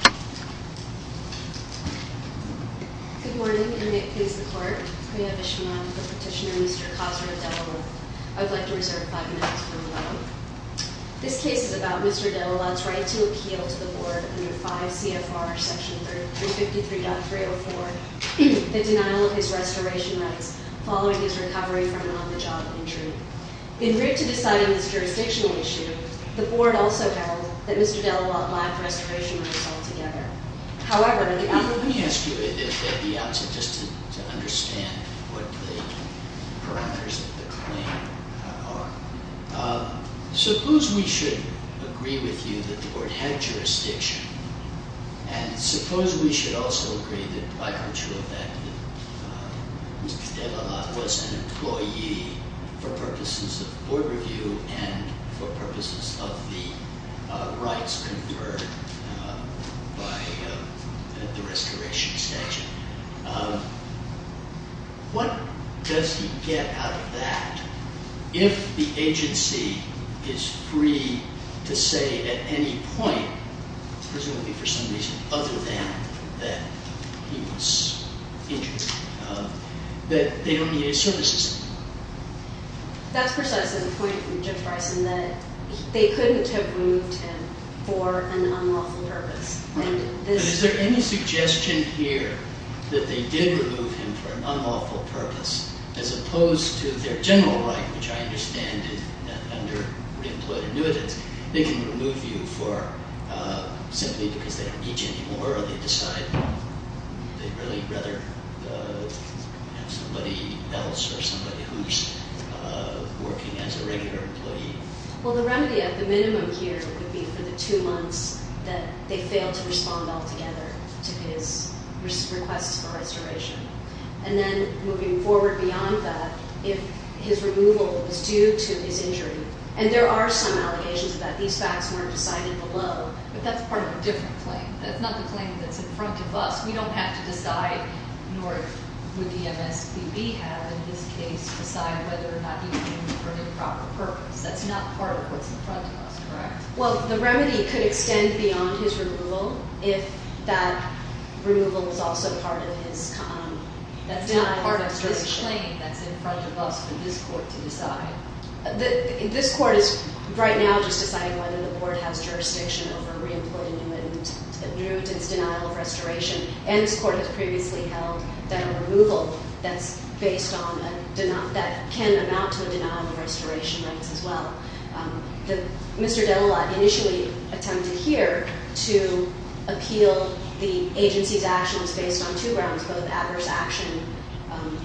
Good morning, and may it please the Court, we have issue now with the petitioner Mr. Khosrow Dalalat. I would like to reserve five minutes from the moment. This case is about Mr. Dalalat's right to appeal to the Board under 5 CFR section 353.304, the denial of his restoration rights following his recovery from an on-the-job injury. In writ to deciding this jurisdictional issue, the Board also held that Mr. Dalalat lacked restoration rights altogether. However, let me ask you at the outset, just to understand what the parameters of the claim are, suppose we should agree with you that the Board had jurisdiction, and suppose we should also agree that by virtue of that Mr. Dalalat was an employee for purposes of Board review and for purposes of the rights conferred by the restoration statute. What does he get out of that if the agency is free to say at any point, presumably for some reason other than that he was injured, that they don't need his services anymore? That's precisely the point from Judge Bryson that they couldn't have removed him for an unlawful purpose. Is there any suggestion here that they did remove him for an unlawful purpose as opposed to their general right, which I understand is that under re-employed annuitants, they can remove you for simply because they don't need you anymore or they decide they'd really rather have somebody else or somebody who's working as a regular employee? Well, the remedy at the minimum here would be for the two months that they failed to respond altogether to his requests for restoration. And then moving forward beyond that, if his removal was due to his injury, and there are some allegations that these facts weren't decided below, but that's part of a different claim. That's not the claim that's in front of us. We don't have to decide, nor would the MSPB have, in this case, decide whether or not he was removed for an improper purpose. That's not part of what's in front of us, correct? Well, the remedy could extend beyond his removal if that removal was also part of his- That's not part of this claim that's in front of us for this court to decide. This court is right now just deciding whether the board has jurisdiction over re-employed annuitants due to this denial of restoration. And this court has previously held that a removal that can amount to a denial of restoration rights as well. Mr. Delalat initially attempted here to appeal the agency's actions based on two grounds, both adverse action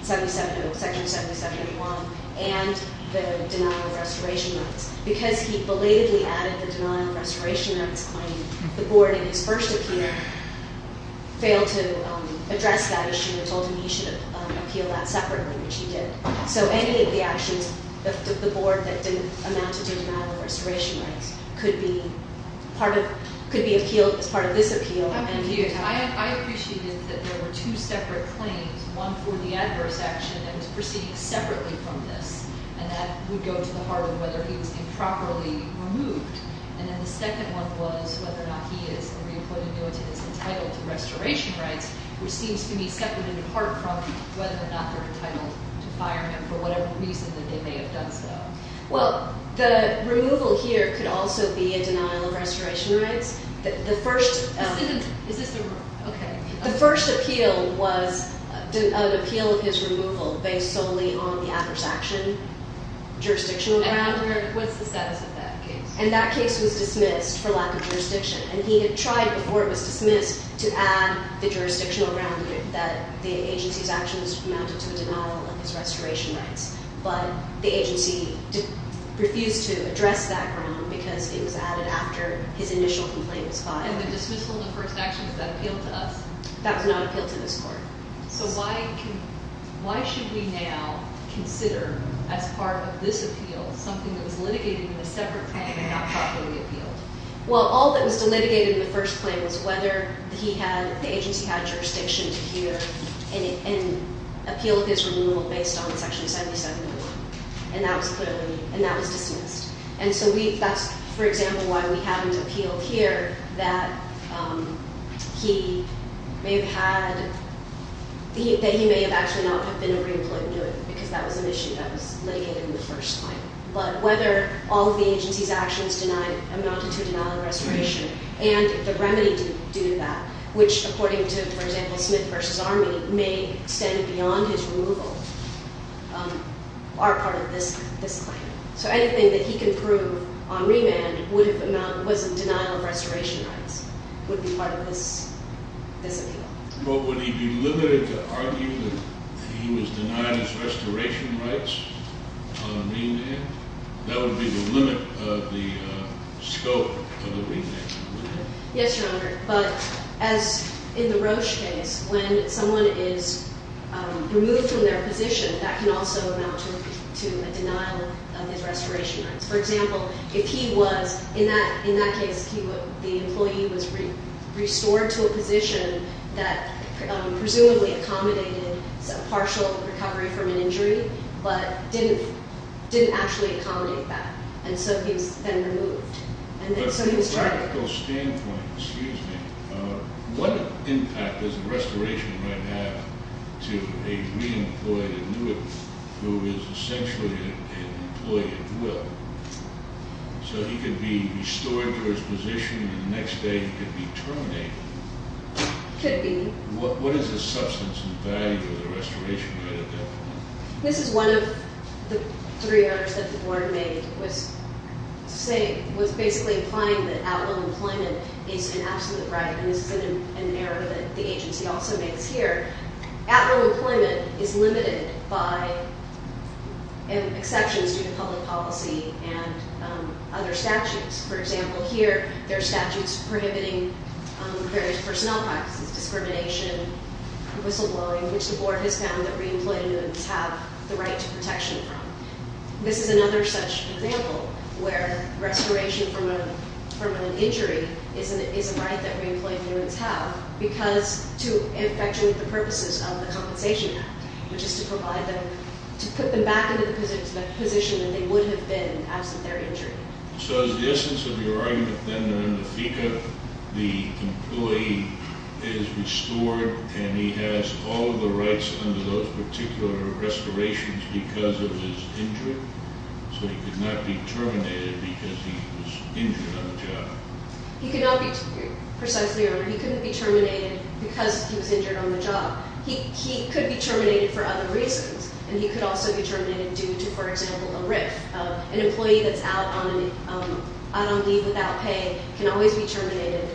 section 7701 and the denial of restoration rights. Because he belatedly added the denial of restoration rights claim, the board in his first appeal failed to address that issue and told him he should appeal that separately, which he did. So any of the actions of the board that didn't amount to a denial of restoration rights could be appealed as part of this appeal. I appreciate that there were two separate claims, one for the adverse action that was proceeding separately from this, and that would go to the heart of whether he was improperly removed. And then the second one was whether or not he is, the re-employed annuitant is entitled to restoration rights, which seems to me separate and apart from whether or not they're entitled to fire him for whatever reason that they may have done so. Well, the removal here could also be a denial of restoration rights. The first appeal was an appeal of his removal based solely on the adverse action jurisdiction around him. And what's the status of that case? And that case was dismissed for lack of jurisdiction. And he had tried before it was dismissed to add the jurisdictional ground that the agency's actions amounted to a denial of his restoration rights. But the agency refused to address that ground because it was added after his initial complaint was filed. And the dismissal of the first action, does that appeal to us? That does not appeal to this court. So why should we now consider as part of this appeal something that was litigated in a separate claim and not properly appealed? Well, all that was litigated in the first claim was whether he had, the agency had jurisdiction to hear and appeal his removal based on Section 77. And that was clearly, and that was dismissed. And so we, that's, for example, why we have an appeal here that he may have had, that he may have actually not been a re-employed New England, because that was an issue that was litigated in the first claim. But whether all of the agency's actions amounted to a denial of restoration and the remedy due to that, which according to, for example, Smith v. Army may extend beyond his removal, are part of this claim. So anything that he can prove on remand would amount, was in denial of restoration rights, would be part of this appeal. But would he be limited to argue that he was denied his restoration rights on remand? That would be the limit of the scope of the remand. Yes, Your Honor. But as in the Roche case, when someone is removed from their position, that can also amount to a denial of his restoration rights. For example, if he was, in that case, the employee was restored to a position that presumably accommodated partial recovery from an injury, but didn't actually accommodate that, and so he was then removed. But from a practical standpoint, what impact does a restoration right have to a re-employed New England who is essentially an employee at will? So he could be restored to his position, and the next day he could be terminated. Could be. What is the substance and value of the restoration right at that point? This is one of the three errors that the Board made, was basically implying that at-will employment is an absolute right, and this is an error that the agency also makes here. At-will employment is limited by exceptions to the public policy and other statutes. For example, here there are statutes prohibiting various personnel practices, discrimination, whistleblowing, which the Board has found that re-employed New Englanders have the right to protection from. This is another such example where restoration from a permanent injury is a right that re-employed New Englanders have because to effectuate the purposes of the Compensation Act, which is to provide them, to put them back into the position that they would have been absent their injury. So is the essence of your argument then that in the FECA, the employee is restored and he has all of the rights under those particular restorations because of his injury, so he could not be terminated because he was injured on the job? He could not be, precisely, or he couldn't be terminated because he was injured on the job. He could be terminated for other reasons, and he could also be terminated due to, for example, a RIF, an employee that's out on leave without pay can always be terminated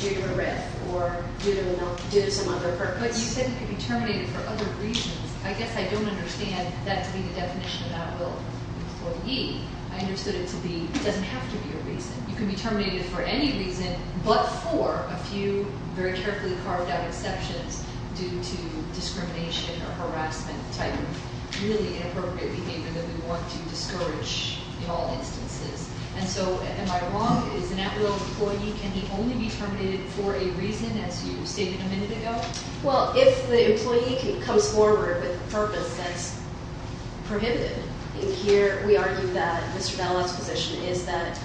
due to a RIF or due to some other purpose. But you said he could be terminated for other reasons. I guess I don't understand that to be the definition of outlaw employee. I understood it to be, it doesn't have to be a reason. You can be terminated for any reason but for a few very carefully carved out exceptions due to discrimination or harassment type of really inappropriate behavior that we want to discourage in all instances. And so am I wrong? Is an outlaw employee, can he only be terminated for a reason as you stated a minute ago? Well, if the employee comes forward with a purpose that's prohibited, here we argue that Mr. Dallas's position is that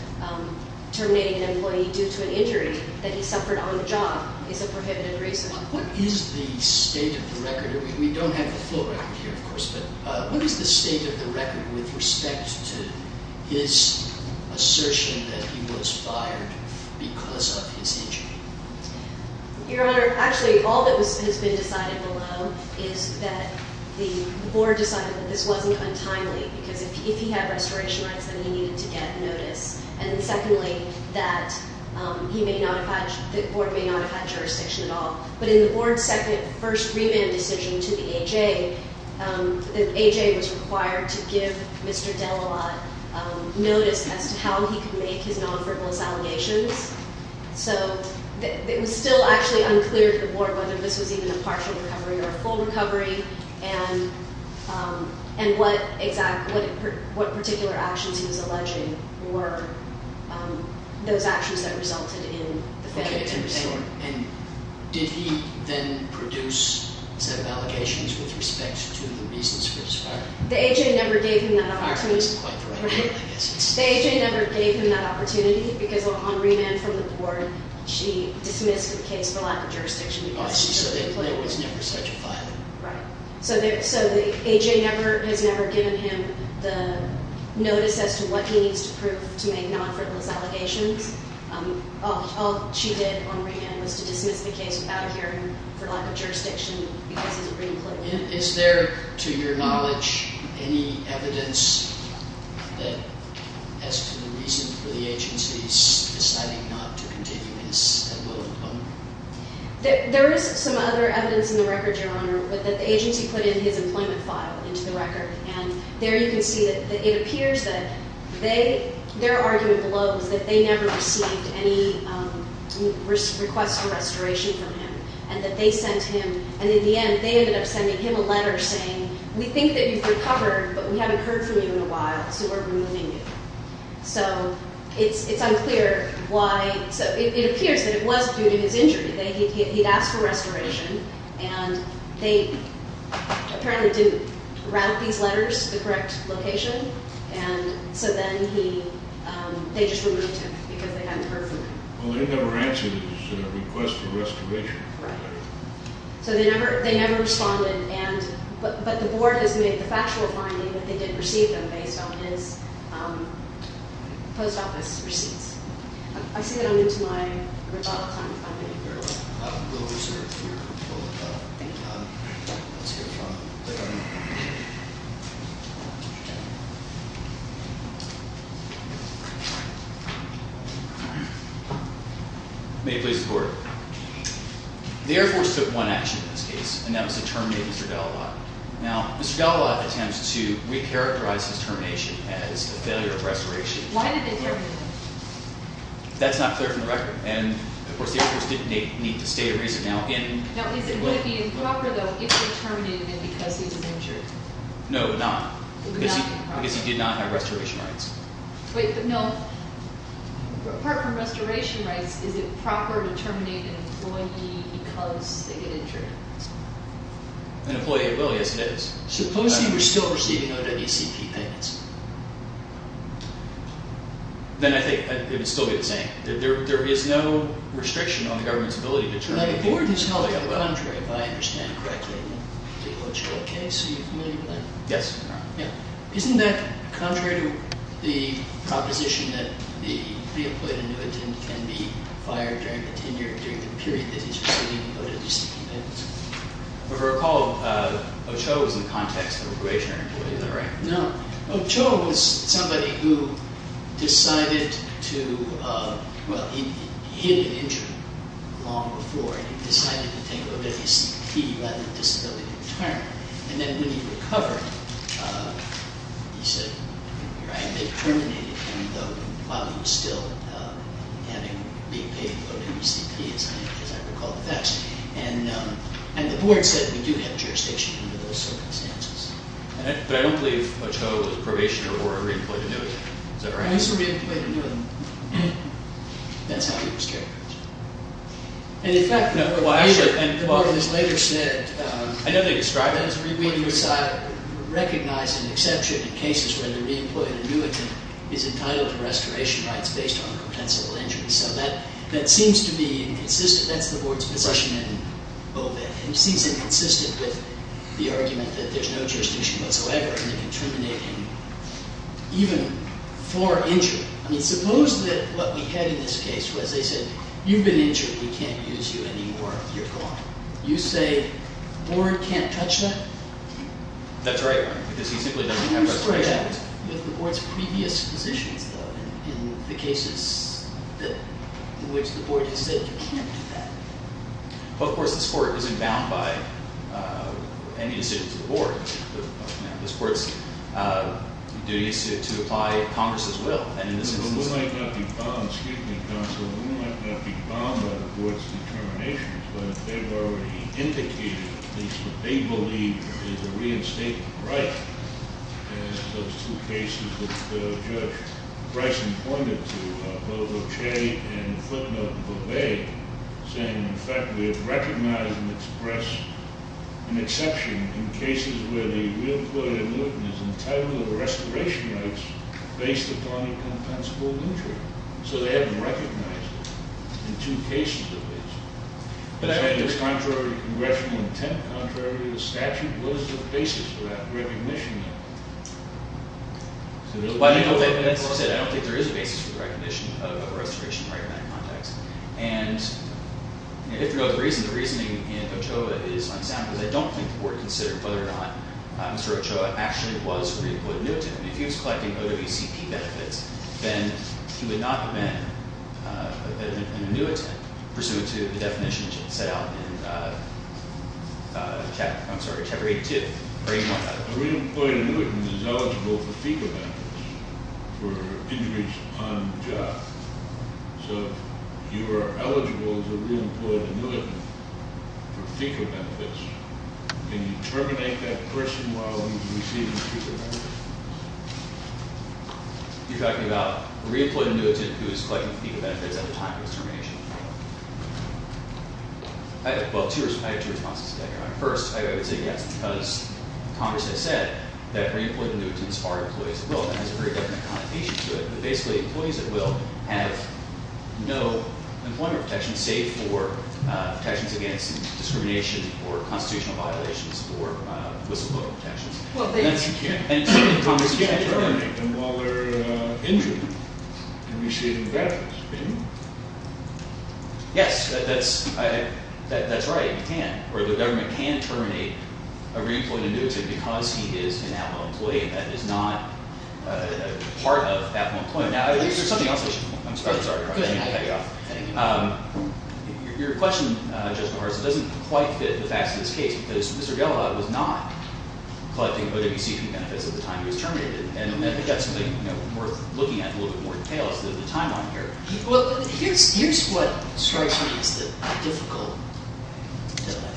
terminating an employee due to an injury that he suffered on the job is a prohibited reason. What is the state of the record? We don't have the full record here, of course. But what is the state of the record with respect to his assertion that he was fired because of his injury? Your Honor, actually all that has been decided below is that the board decided that this wasn't untimely because if he had restoration rights then he needed to get notice. And secondly, that he may not have had, the board may not have had jurisdiction at all. But in the board's second, first revamp decision to the A.J., the A.J. was required to give Mr. Dellawade notice as to how he could make his non-frivolous allegations. So it was still actually unclear to the board whether this was even a partial recovery or a full recovery and what particular actions he was alleging were those actions that resulted in the failure to restore. Okay, and did he then produce seven allegations with respect to the reasons for his firing? The A.J. never gave him that opportunity. Firing is quite correct, I guess. The A.J. never gave him that opportunity because on remand from the board, she dismissed the case for lack of jurisdiction. Oh, I see, so there was never such a filing. Right. So the A.J. never, has never given him the notice as to what he needs to prove to make non-frivolous allegations. All she did on remand was to dismiss the case without a hearing for lack of jurisdiction because he's a green-cloaker. Is there, to your knowledge, any evidence that as to the reason for the agency's deciding not to continue this at will? There is some other evidence in the record, Your Honor, that the agency put in his employment file into the record, and there you can see that it appears that they, their argument below is that they never received any request for restoration from him and that they sent him, and in the end, they ended up sending him a letter saying, we think that you've recovered, but we haven't heard from you in a while, so we're removing you. So it's unclear why, so it appears that it was due to his injury. He'd asked for restoration, and they apparently didn't route these letters to the correct location, and so then he, they just removed him because they hadn't heard from him. Well, they never answered his request for restoration. Right. So they never responded, and, but the board has made the factual finding that they did receive them based on his post office receipts. I see that I'm into my rebuttal time, if I may. Very well. We'll reserve your rebuttal time. Thank you, Your Honor. Let's hear from the Governor. May it please the Court. The Air Force took one action in this case, and that was to terminate Mr. Delawade. Now, Mr. Delawade attempts to recharacterize his termination as a failure of restoration. Why did they terminate him? That's not clear from the record, and, of course, the Air Force didn't need to state a reason. Now, is it proper, though, if they terminated him because he was injured? No, not. Because he did not have restoration rights. Wait, but no, apart from restoration rights, is it proper to terminate an employee because they get injured? An employee, well, yes, it is. Suppose he was still receiving OWCP payments. Then I think it would still be the same. There is no restriction on the government's ability to terminate people. Now, the board has held the contrary, if I understand it correctly. The OWCP case, are you familiar with that? Yes, Your Honor. Now, isn't that contrary to the proposition that the pre-employed annuitant can be fired during the tenure, during the period that he's receiving OWCP payments? If I recall, Ochoa was in the context of a greater employee, is that right? No, Ochoa was somebody who decided to, well, he had been injured long before, and he decided to take OWCP rather than disability retirement. And then when he recovered, he said, right, they terminated him while he was still having, being paid OWCP, as I recall the facts. And the board said we do have jurisdiction under those circumstances. But I don't believe Ochoa was a probationer or a re-employed annuitant, is that right? He was a re-employed annuitant. That's how he was characterized. And in fact, the board has later said, I know they described it as re-employed. We do recognize an exception in cases where the re-employed annuitant is entitled to restoration rights based on compensable injuries. So that seems to be inconsistent. That's the board's position in OVAC. And it seems inconsistent with the argument that there's no jurisdiction whatsoever, and they can terminate him even for injury. I mean, suppose that what we had in this case was they said, you've been injured. We can't use you anymore. You're gone. You say the board can't touch that? That's right, because he simply doesn't have restoration rights. Can you spray that with the board's previous positions, though, in the cases in which the board has said you can't do that? Well, of course, this court isn't bound by any decision to the board. This court's duty is to apply Congress's will. And in this instance- But we might not be bound, excuse me, counsel, but we might not be bound by the board's determination. But they've already indicated at least what they believe is a reinstatement right in those two cases that Judge Bryson pointed to. Both Ochey and Footnote have obeyed, saying, in fact, we have recognized and expressed an exception in cases where the real court in Luton is entitled to restoration rights based upon a compensable injury. So they haven't recognized it in two cases of this. So I guess contrary to congressional intent, contrary to the statute, what is the basis for that recognition? That's what I said. I don't think there is a basis for the recognition of a restoration right in that context. And if there is a reason, the reasoning in Ochoa is unsound, because I don't think the board considered whether or not Mr. Ochoa actually was a reemployed annuitant. If he was collecting OWCP benefits, then he would not have been an annuitant, pursuant to the definition set out in Chapter 82. A reemployed annuitant is eligible for FECA benefits for injuries on the job. So you are eligible as a reemployed annuitant for FECA benefits. Can you terminate that question while he's receiving FECA benefits? You're talking about a reemployed annuitant who is collecting FECA benefits at the time of his termination? Well, I have two responses to that. First, I would say yes, because Congress has said that reemployed annuitants are employees at will. That has a very definite connotation to it. But basically, employees at will have no employment protections, save for protections against discrimination or constitutional violations or whistleblower protections. Well, you can't terminate them while they're injured and receiving benefits, can you? Yes, that's right, you can. Or the government can terminate a reemployed annuitant because he is an at-will employee. That is not part of at-will employment. Now, I believe there's something else I should point out. I'm sorry. Go ahead. Your question, Judge Norris, doesn't quite fit the facts of this case, because Mr. Gelobot was not collecting OWCP benefits at the time he was terminated. And I think that's something worth looking at in a little bit more detail, is the timeline here. Well, here's what strikes me as the difficult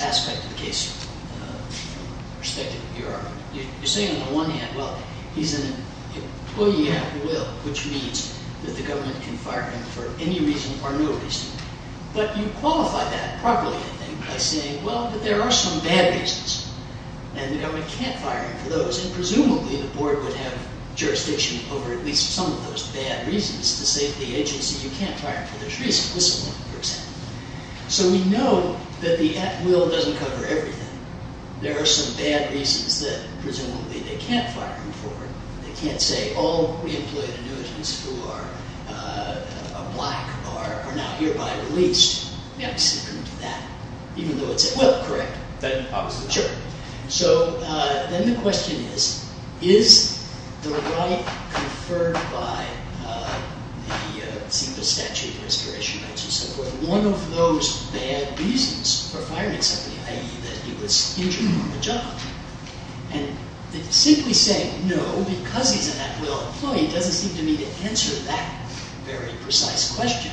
aspect of the case, from the perspective of your argument. You're saying on the one hand, well, he's an employee at will, which means that the government can fire him for any reason or no reason. But you qualify that properly, I think, by saying, well, but there are some bad reasons, and the government can't fire him for those. And presumably, the board would have jurisdiction over at least some of those bad reasons to say to the agency, you can't fire him for this reason. This is one, for example. So we know that the at-will doesn't cover everything. There are some bad reasons that, presumably, they can't fire him for. They can't say, all reemployed annuitants who are black are now hereby released. They obviously couldn't do that, even though it's at will. Correct. Then obviously not. Sure. So then the question is, is the right conferred by the CEQA statute, restoration rights, and so forth, one of those bad reasons for firing somebody, i.e. that he was injured on the job? And simply saying no, because he's an at-will employee, doesn't seem to me to answer that very precise question.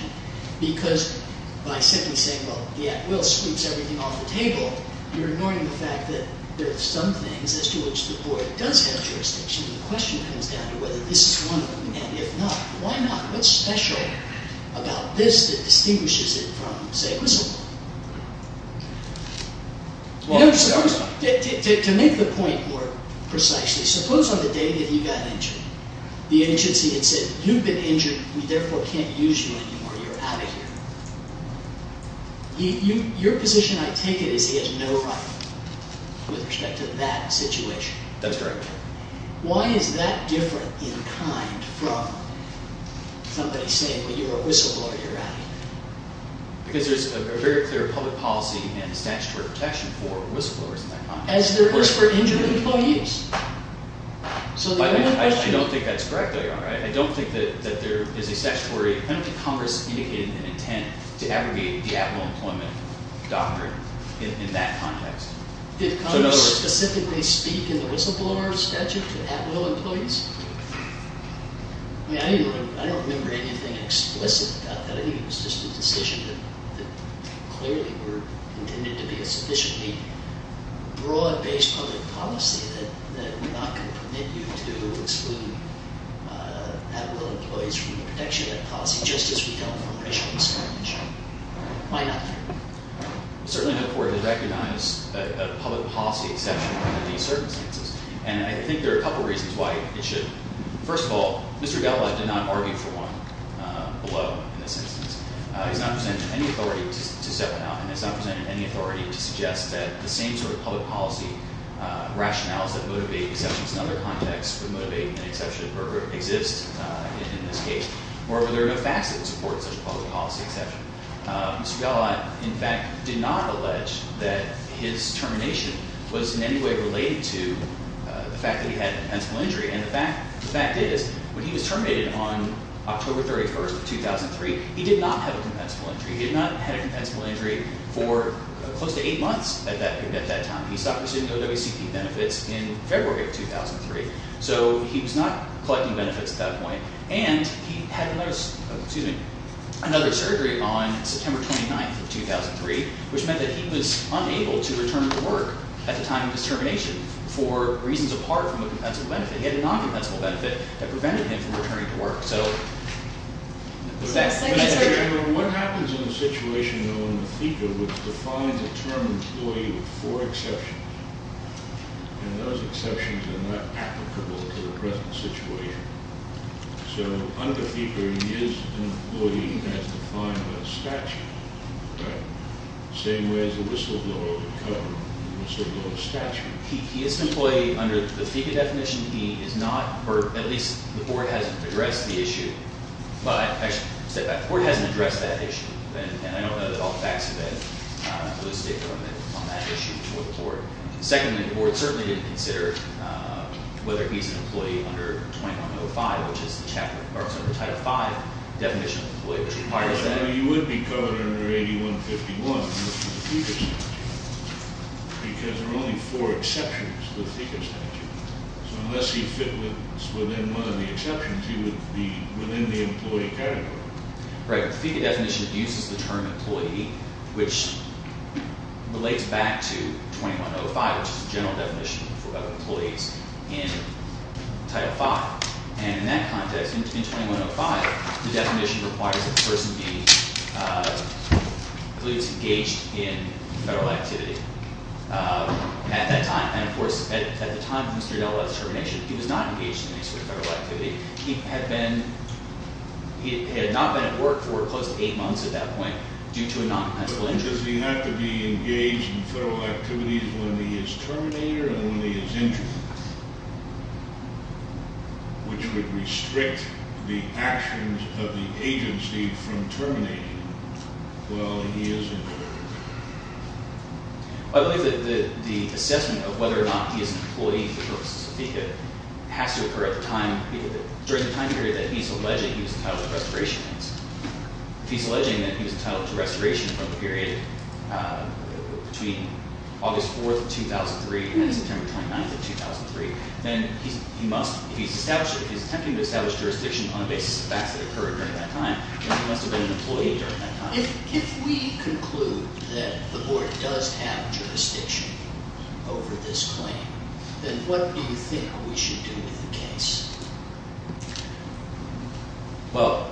Because by simply saying, well, the at-will sweeps everything off the table, you're ignoring the fact that there are some things as to which the board does have jurisdiction. And the question comes down to whether this is one of them. And if not, why not? What's special about this that distinguishes it from, say, whistleblowing? To make the point more precisely, suppose on the day that he got injured, the agency had said, you've been injured, we therefore can't use you anymore. You're out of here. Your position, I take it, is he has no right with respect to that situation. That's correct. Why is that different in kind from somebody saying, well, you're a whistleblower, you're out of here? Because there's a very clear public policy and statutory protection for whistleblowers in that context. As there is for injured employees. I don't think that's correct, though, Your Honor. I don't think that there is a statutory penalty Congress indicated an intent to abrogate the at-will employment doctrine in that context. Did Congress specifically speak in the whistleblower statute to at-will employees? I don't remember anything explicit about that. I think it was just a decision that clearly were intended to be a sufficiently broad-based public policy that we're not going to permit you to exclude at-will employees from the protection of that policy, just as we don't from racial discrimination. Why not? It's certainly not important to recognize a public policy exception under these circumstances. And I think there are a couple reasons why it should. First of all, Mr. Gattala did not argue for one below in this instance. He's not presented any authority to step it out and has not presented any authority to suggest that the same sort of public policy rationales that motivate exceptions in other contexts would motivate an exception or exist in this case. Moreover, there are no facts that would support such a public policy exception. Mr. Gattala, in fact, did not allege that his termination was in any way related to the fact that he had a compensable injury. And the fact is, when he was terminated on October 31st of 2003, he did not have a compensable injury. He had not had a compensable injury for close to eight months at that time. He stopped receiving OWCP benefits in February of 2003. So he was not collecting benefits at that point. And he had another surgery on September 29th of 2003, which meant that he was unable to return to work at the time of his termination for reasons apart from a compensable benefit. He had a non-compensable benefit that prevented him from returning to work. What happens in a situation known as a FECA, which defines a term employee with four exceptions? And those exceptions are not applicable to the present situation. So under FECA, he is an employee and has defined a statute, right? Same way as a whistleblower would cover a whistleblower's statute. He is an employee under the FECA definition. He is not, or at least the board hasn't addressed the issue. Well, actually, step back. The board hasn't addressed that issue. And I don't know that all the facts have been holistic on that issue before the court. Secondly, the board certainly didn't consider whether he's an employee under 2105, which is the Title V definition of employee. You would be covered under 8151 in the FECA statute because there are only four exceptions to the FECA statute. So unless you fit within one of the exceptions, you would be within the employee category. Right. The FECA definition uses the term employee, which relates back to 2105, which is the general definition of employees in Title V. And in that context, in 2105, the definition requires that the person be, I believe, engaged in federal activity at that time. And, of course, at the time of Mr. Della's termination, he was not engaged in any sort of federal activity. He had not been at work for close to eight months at that point due to a noncompensable injury. So why does he have to be engaged in federal activities when he is terminated and when he is injured, which would restrict the actions of the agency from terminating him while he is employed? I believe that the assessment of whether or not he is an employee for the purposes of FECA has to occur at the time, during the time period that he's alleging he was entitled to restoration. If he's alleging that he was entitled to restoration from the period between August 4th of 2003 and September 29th of 2003, then he must – if he's attempting to establish jurisdiction on the basis of facts that occurred during that time, then he must have been an employee during that time. If we conclude that the Board does have jurisdiction over this claim, then what do you think we should do with the case? Well,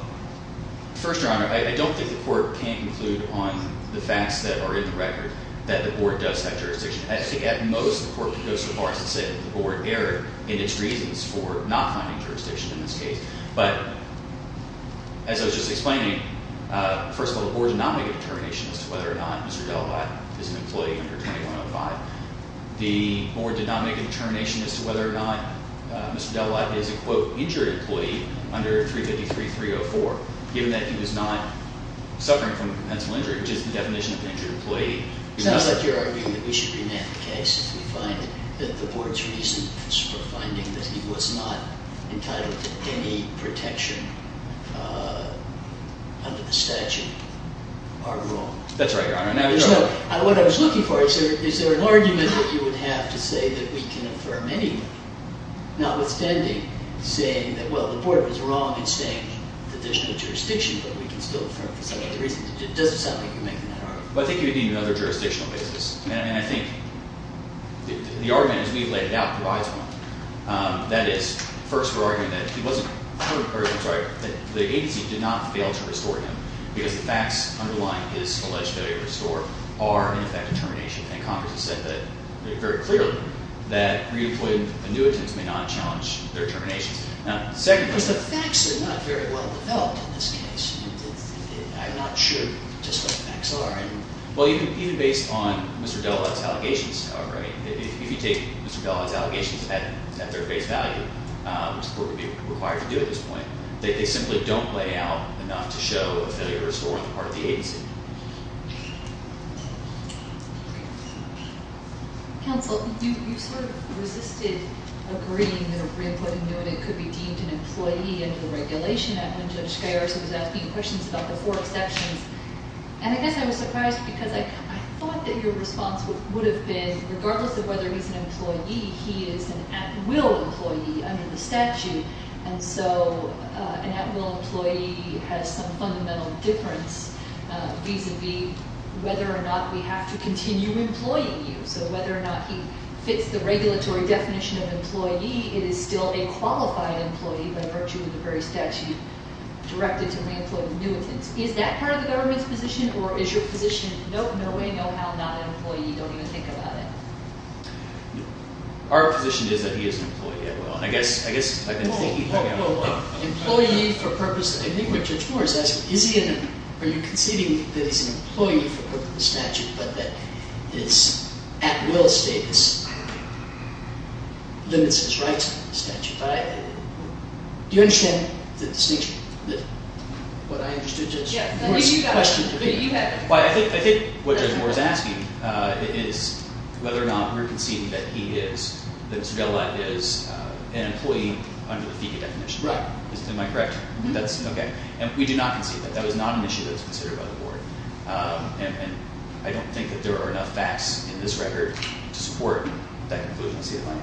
First Your Honor, I don't think the Court can conclude on the facts that are in the record that the Board does have jurisdiction. I think at most the Court can go so far as to say that the Board erred in its reasons for not finding jurisdiction in this case. But as I was just explaining, first of all, the Board did not make a determination as to whether or not Mr. Della Latt is an employee under 2105. The Board did not make a determination as to whether or not Mr. Della Latt is a, quote, injured employee under 353.304. Given that he was not suffering from a pensible injury, which is the definition of an injured employee – It sounds like you're arguing that we should remand the case if we find that the Board's reasons for finding that he was not entitled to any protection under the statute are wrong. That's right, Your Honor. So what I was looking for is, is there an argument that you would have to say that we can affirm anyway, notwithstanding saying that, well, the Board was wrong in saying that there's no jurisdiction, but we can still affirm for some other reason? It doesn't sound like you're making that argument. Well, I think you would need another jurisdictional basis. And I think the argument, as we've laid it out, provides one. That is, first, we're arguing that he wasn't – or, I'm sorry, that the agency did not fail to restore him because the facts underlying his alleged failure to restore are, in effect, a termination. And Congress has said that very clearly that re-employed annuitants may not challenge their terminations. Now, secondly – Because the facts are not very well developed in this case. I'm not sure just what the facts are. Well, you can – either based on Mr. Delalette's allegations, however. If you take Mr. Delalette's allegations at their face value, which is what would be required to do at this point, they simply don't lay out enough to show a failure to restore on the part of the agency. Counsel, you sort of resisted agreeing that a re-employed annuitant could be deemed an employee under the regulation. I know Judge Scayarza was asking questions about the four exceptions. And I guess I was surprised because I thought that your response would have been, regardless of whether he's an employee, he is an at-will employee under the statute. And so an at-will employee has some fundamental difference vis-a-vis whether or not we have to continue employing you. So whether or not he fits the regulatory definition of employee, it is still a qualified employee by virtue of the very statute directed to re-employed annuitants. Is that part of the government's position? Or is your position, no way, no how, not an employee? You don't even think about it? Our position is that he is an employee at will. And I guess – Employee for purpose – I think what Judge Moore is asking, is he an – are you conceding that he's an employee for the purpose of the statute, but that his at-will status limits his rights under the statute? Do you understand the distinction? What I understood Judge Moore's question to be. Well, I think what Judge Moore is asking is whether or not we're conceding that he is, that Mr. Della is an employee under the FECA definition. Right. Am I correct? That's, okay. And we do not concede that. That was not an issue that was considered by the board. And I don't think that there are enough facts in this record to support that conclusion. I don't see the time.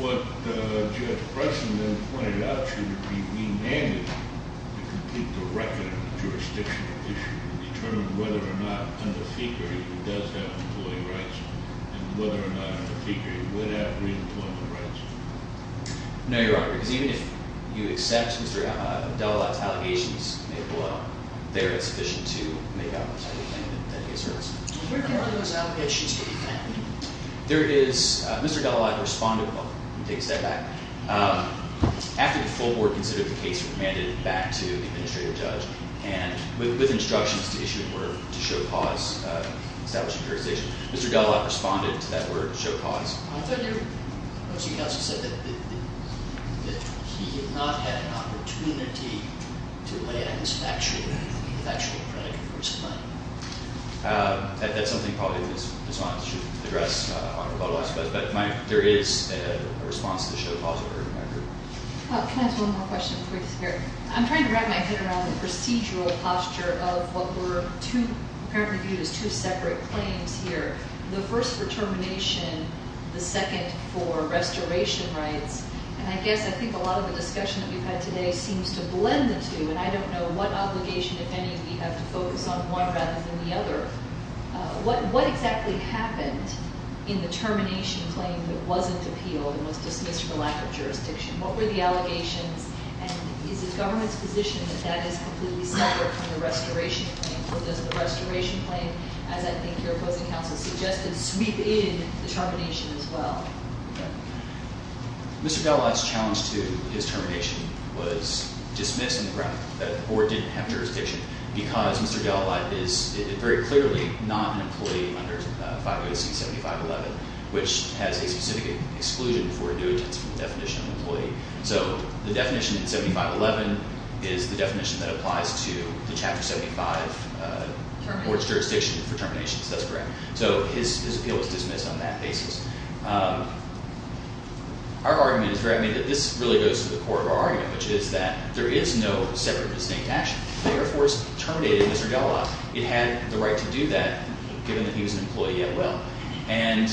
What Judge Bryson then pointed out should be remanded to complete the record of the jurisdictional issue and determine whether or not under FECA he does have employee rights and whether or not under FECA he would have reemployment rights. No, Your Honor. Because even if you accept Mr. Della Lott's allegations made below, there is sufficient to make up for the fact that that case hurts. Where are those allegations to be found? There is – Mr. Della Lott responded – well, let me take a step back. After the full board considered the case, it was mandated back to the administrative judge, and with instructions to issue a word to show cause, establish a jurisdiction, Mr. Della Lott responded to that word, show cause. I thought your opposing counsel said that he did not have an opportunity to lay out his factual – his factual prediction for his claim. That's something probably Ms. Watt should address on her part, I suppose. But there is a response to show cause in her record. Can I ask one more question before you disappear? I'm trying to wrap my head around the procedural posture of what were two – apparently viewed as two separate claims here. The first for termination, the second for restoration rights. And I guess I think a lot of the discussion that we've had today seems to blend the two. And I don't know what obligation, if any, we have to focus on one rather than the other. What exactly happened in the termination claim that wasn't appealed and was dismissed for lack of jurisdiction? What were the allegations? And is the government's position that that is completely separate from the restoration claim? Or does the restoration claim, as I think your opposing counsel suggested, sweep in the termination as well? Mr. Delalette's challenge to his termination was dismissed on the grounds that the board didn't have jurisdiction because Mr. Delalette is very clearly not an employee under 508C-7511, which has a specific exclusion for a new attestable definition of employee. So the definition in 7511 is the definition that applies to the Chapter 75 board's jurisdiction for terminations. That's correct. So his appeal was dismissed on that basis. Our argument is very – I mean, this really goes to the core of our argument, which is that there is no separate or distinct action. The Air Force terminated Mr. Delalette. It had the right to do that given that he was an employee at will. And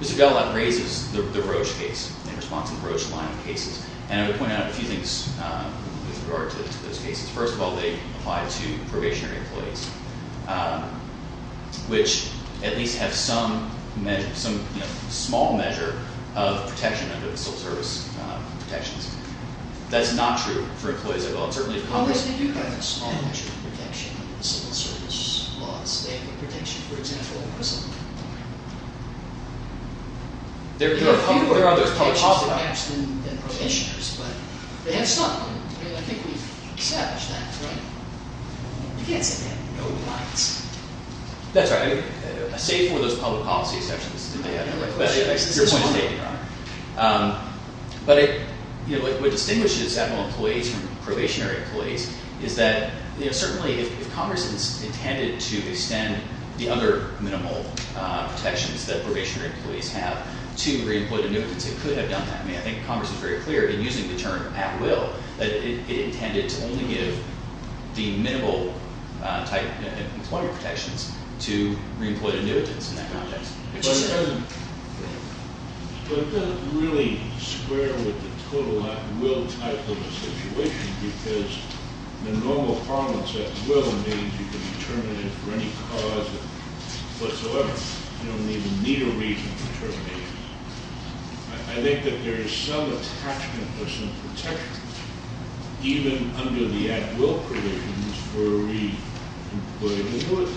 Mr. Delalette raises the Roche case in response to the Roche line of cases. And I would point out a few things with regard to those cases. First of all, they apply to probationary employees, which at least have some small measure of protection under the civil service protections. That's not true for employees at will. Well, they do have a small measure of protection under the civil service laws. They have the protection, for example, of prison. There are a few protections against them than probationers, but they have some. I mean, I think we've established that, right? You can't say they have no rights. That's right. I say it for those public policy exceptions that they have. But your point is made, Your Honor. But what distinguishes admiral employees from probationary employees is that certainly if Congress intended to extend the other minimal protections that probationary employees have to re-employed annuitants, it could have done that. I mean, I think Congress is very clear in using the term at will that it intended to only give the minimal type employment protections to re-employed annuitants in that context. But it doesn't really square with the total at will type of a situation because the normal parlance at will means you can be terminated for any cause whatsoever. You don't even need a reason to terminate. I think that there is some attachment or some protection even under the at will provisions for re-employed annuitants.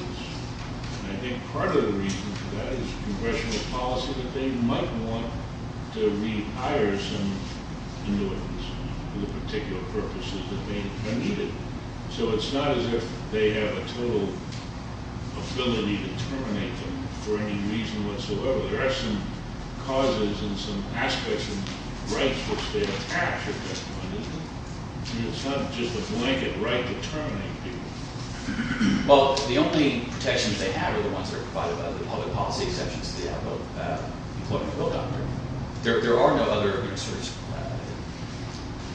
And I think part of the reason for that is congressional policy that they might want to rehire some annuitants for the particular purposes that may have been needed. So it's not as if they have a total ability to terminate them for any reason whatsoever. There are some causes and some aspects of rights which they attach at that point, isn't there? And it's not just a blanket right to terminate people. Well, the only protections they have are the ones that are provided by the public policy exceptions to the Employment Bill Doctrine. There are no other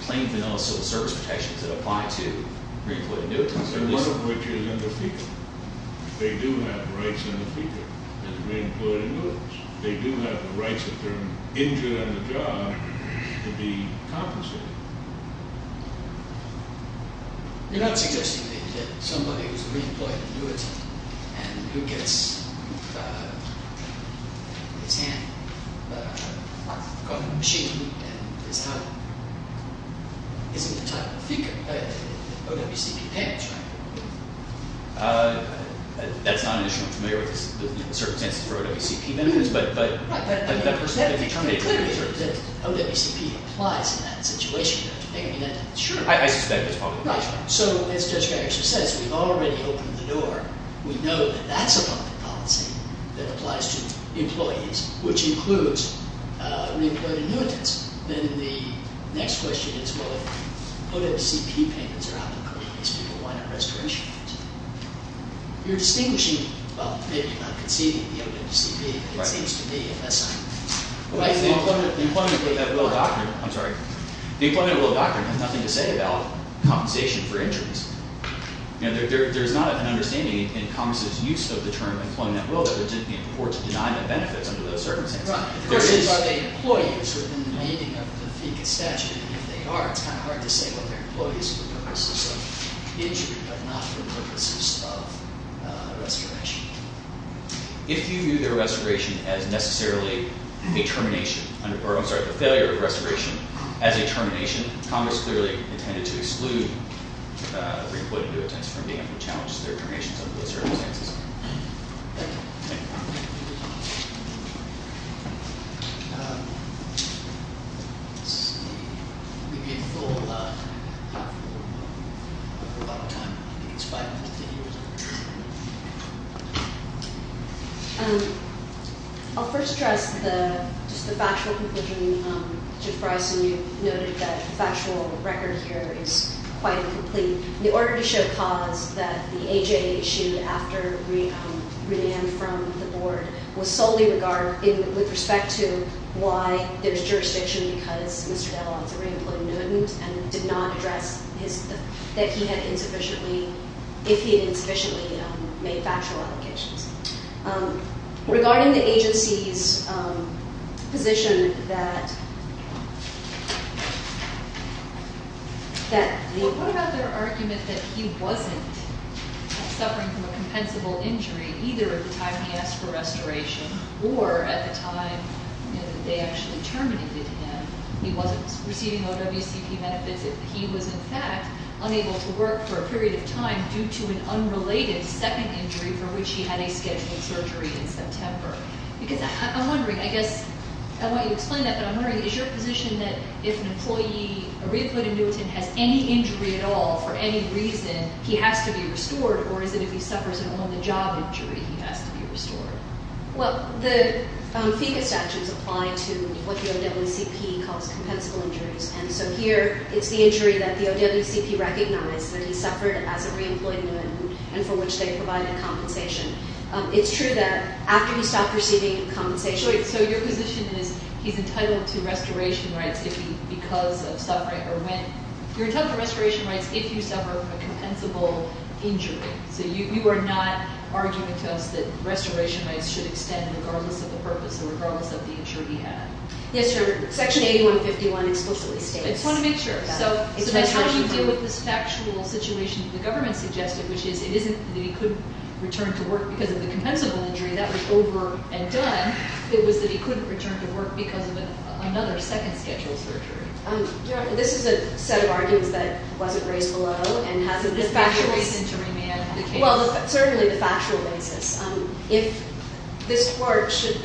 plain vanilla civil service protections that apply to re-employed annuitants. And one of which is in the FECA. They do have rights in the FECA as re-employed annuitants. They do have the rights if they're injured on the job to be compensated. You're not suggesting to me that somebody who's a re-employed annuitant and who gets his hand caught in the machine and is out isn't entitled to FECA – OWCP payments, right? That's not an issue I'm familiar with. There are certain circumstances for OWCP benefits, but that person can't be terminated. OWCP applies in that situation, don't you think? I mean, that's true. I suspect that's probably the case. Right. So, as Judge Gagasher says, we've already opened the door. We know that that's a public policy that applies to employees, which includes re-employed annuitants. Then the next question is, well, if OWCP payments are out in the country, these people, why not restoration payments? You're distinguishing – well, maybe not conceding the OWCP payment, but it seems to me, if that's not – Well, the Employment of Will Doctrine – I'm sorry. The Employment of Will Doctrine has nothing to say about compensation for injuries. There's not an understanding in Congress's use of the term Employment of Will that would be in purport to deny them benefits under those circumstances. Right. The question is, are they employees within the meaning of the FECA statute? And if they are, it's kind of hard to say whether they're employees for the purposes of injury, but not for the purposes of restoration. If you view their restoration as necessarily a termination – or, I'm sorry, the failure of restoration as a termination, Congress clearly intended to exclude re-employed annuitants from being able to challenge their terminations under those circumstances. Thank you. Thank you. Thank you. I'll first address the – just the factual conclusion. Judge Bryson, you noted that the factual record here is quite incomplete. And the order to show cause that the AJA issued after remand from the Board was solely regarded with respect to why there's jurisdiction, because Mr. Dell is a re-employed annuitant and did not address his – that he had insufficiently – if he had insufficiently made factual allegations. Regarding the agency's position that – that the – the argument that he wasn't suffering from a compensable injury either at the time he asked for restoration or at the time that they actually terminated him, he wasn't receiving OWCP benefits. He was, in fact, unable to work for a period of time due to an unrelated second injury for which he had a scheduled surgery in September. Because I'm wondering, I guess – I want you to explain that, but I'm wondering, is your position that if an employee – a re-employed annuitant has any injury at all for any reason, he has to be restored or is it if he suffers an on-the-job injury he has to be restored? Well, the FECA statutes apply to what the OWCP calls compensable injuries. And so here it's the injury that the OWCP recognized that he suffered as a re-employed annuitant and for which they provided compensation. It's true that after he stopped receiving compensation – So your position is he's entitled to restoration rights if he – because of suffering or when – you're entitled to restoration rights if you suffer from a compensable injury. So you are not arguing to us that restoration rights should extend regardless of the purpose or regardless of the injury he had. Yes, sir. Section 8151 explicitly states that. I just want to make sure. So that's how you deal with this factual situation that the government suggested, which is it isn't that he couldn't return to work because of the compensable injury. That was over and done. It was that he couldn't return to work because of another second scheduled surgery. Your Honor, this is a set of arguments that wasn't raised below and hasn't been factually – Is there a reason to remand the case? Well, certainly the factual basis. If this Court should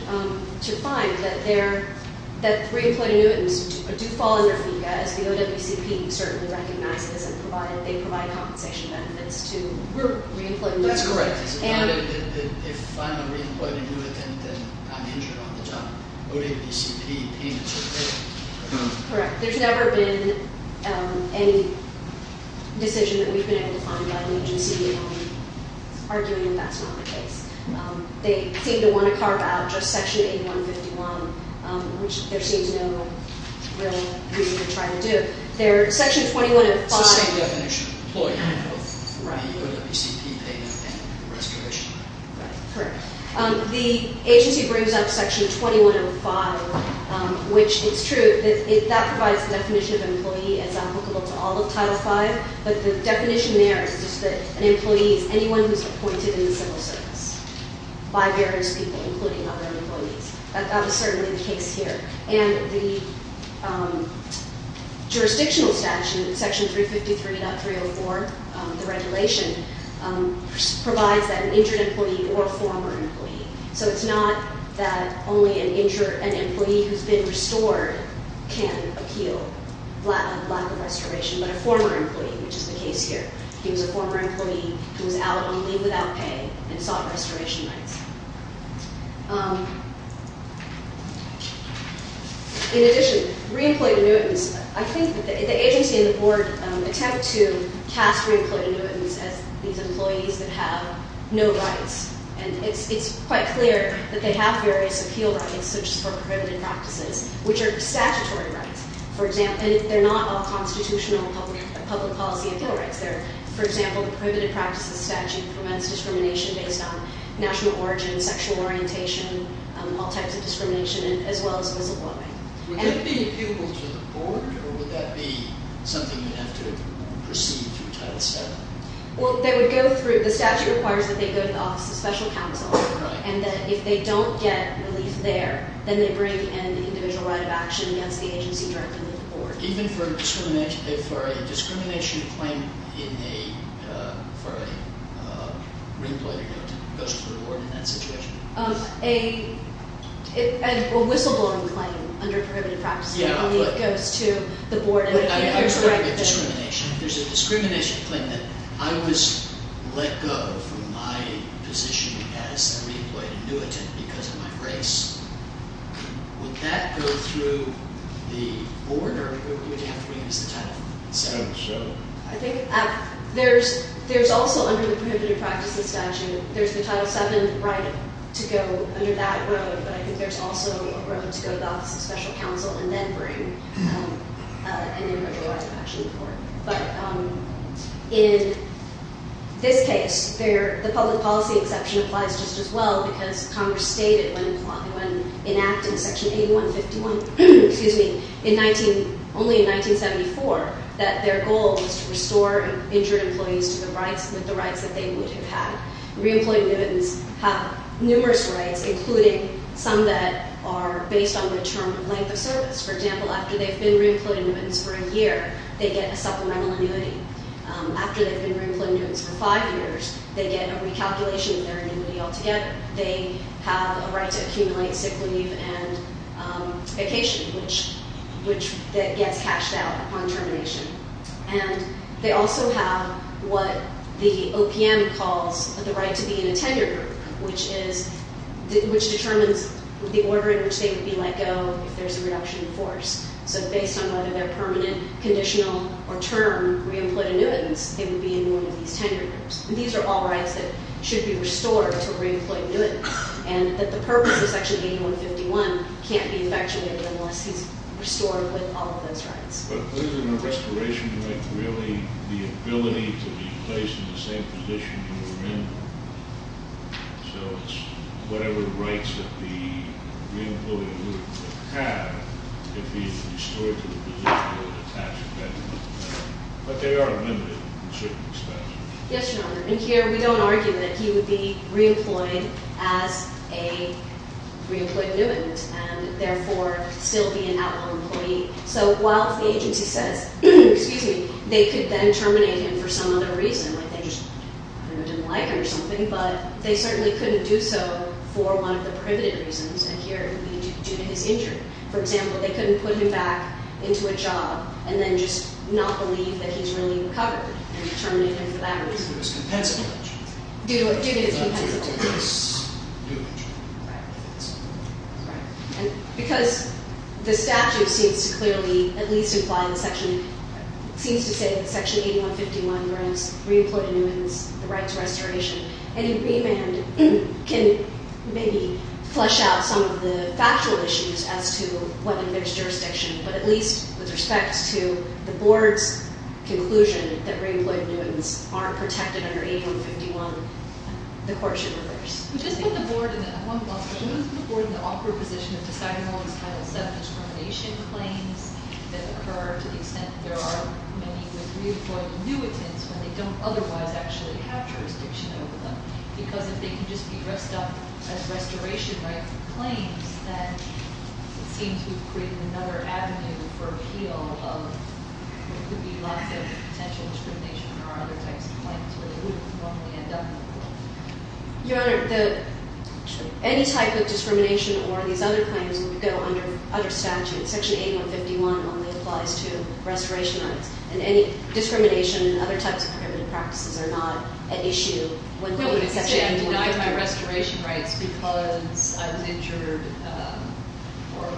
find that there – that re-employed annuitants do fall under FECA, as the OWCP certainly recognizes and provide – they provide compensation benefits to re-employed annuitants. That's correct. If I'm a re-employed annuitant, then I'm injured on the job. The OWCP pays the fee. Correct. There's never been any decision that we've been able to find by the agency arguing that that's not the case. They seem to want to carve out just Section 8151, which there seems no real reason to try to do. There – Section 2105 – It's the same definition of employee. Right. The OWCP payment and respiration. Right. Correct. The agency brings up Section 2105, which it's true. That provides the definition of employee as applicable to all of Title V, but the definition there is just that an employee is anyone who's appointed in the civil service by various people, including other employees. That was certainly the case here. And the jurisdictional statute, Section 353.304, the regulation, provides that an injured employee or a former employee – So it's not that only an injured – an employee who's been restored can appeal lack of respiration, but a former employee, which is the case here. He was a former employee who was out on leave without pay and sought respiration rights. In addition, re-employed annuitants – I think the agency and the board attempt to cast re-employed annuitants as these employees that have no rights. And it's quite clear that they have various appeal rights, such as for prohibited practices, which are statutory rights. And they're not all constitutional public policy appeal rights. For example, the prohibited practices statute prevents discrimination based on national origin, sexual orientation, all types of discrimination, as well as physical abuse. Would that be appealable to the board, or would that be something you'd have to proceed to Title VII? Well, they would go through – the statute requires that they go to the Office of Special Counsel. Right. And that if they don't get relief there, then they bring an individual right of action against the agency directly to the board. Even for a discrimination claim in a – for a re-employed annuitant goes to the board in that situation? A whistleblowing claim under prohibited practices goes to the board. I'm talking about discrimination. If there's a discrimination claim that I was let go from my position as a re-employed annuitant because of my race, would that go through the board, or would you have to bring it to Title VII? I think there's also under the prohibited practices statute, there's the Title VII right to go under that road. But I think there's also a road to go to the Office of Special Counsel and then bring an individual right of action to the board. But in this case, the public policy exception applies just as well, because Congress stated when enacting Section 8151 – excuse me – in 19 – only in 1974, that their goal was to restore injured employees to the rights – with the rights that they would have had. Re-employed annuitants have numerous rights, including some that are based on the term of length of service. For example, after they've been re-employed annuitants for a year, they get a supplemental annuity. After they've been re-employed annuitants for five years, they get a recalculation of their annuity altogether. They have a right to accumulate sick leave and vacation, which – that gets cashed out upon termination. And they also have what the OPM calls the right to be in a tenure group, which is – which determines the order in which they would be let go if there's a reduction in force. So based on whether they're permanent, conditional, or term re-employed annuitants, they would be in one of these tenure groups. And these are all rights that should be restored to re-employed annuitants, and that the purpose of Section 8151 can't be effectuated unless he's restored with all of those rights. But isn't a restoration right really the ability to be placed in the same position you were in? So it's whatever rights that the re-employed annuitant would have if he's restored to the position of a tax-dependent. But they are limited in certain respects. Yes, Your Honor. And here we don't argue that he would be re-employed as a re-employed annuitant, and therefore still be an outlaw employee. So while the agency says – excuse me – they could then terminate him for some other reason, like they just – I don't know, didn't like him or something. But they certainly couldn't do so for one of the privileged reasons, and here it would be due to his injury. For example, they couldn't put him back into a job and then just not believe that he's really recovered and terminate him for that reason. Due to his compensable injury. Due to his compensable injury. Due to his new injury. Right. And because the statute seems to clearly at least imply the section – seems to say that Section 8151 grants re-employed annuitants the right to restoration, any remand can maybe flesh out some of the factual issues as to what admits jurisdiction, but at least with respect to the board's conclusion that re-employed annuitants aren't protected under 8151, the court should reverse. Would this put the board in the – I want to ask, would this put the board in the awkward position of deciding all these Title VII discrimination claims that occur to the extent that there are many re-employed annuitants when they don't otherwise actually have jurisdiction over them? Because if they can just be dressed up as restoration claims, then it seems we've created another avenue for appeal of – there could be lots of potential discrimination or other types of claims where they wouldn't normally end up in the court. Your Honor, the – any type of discrimination or these other claims would go under statute. Section 8151 only applies to restoration rights, and any discrimination and other types of prohibitive practices are not at issue when – Well, it would say I denied my restoration rights because I was injured or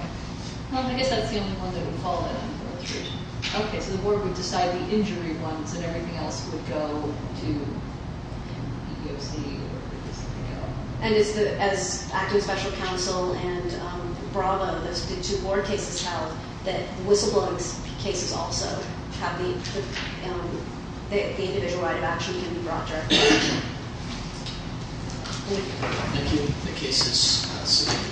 – Well, I guess that's the only one that would call it a restoration. Okay, so the board would decide the injury ones, and everything else would go to PEOC, or – And is the – as Acting Special Counsel and Bravo, those two board cases held, that whistleblowing cases also have the – the individual right of action can be brought directly to the board. Thank you. Thank you. The case is submitted.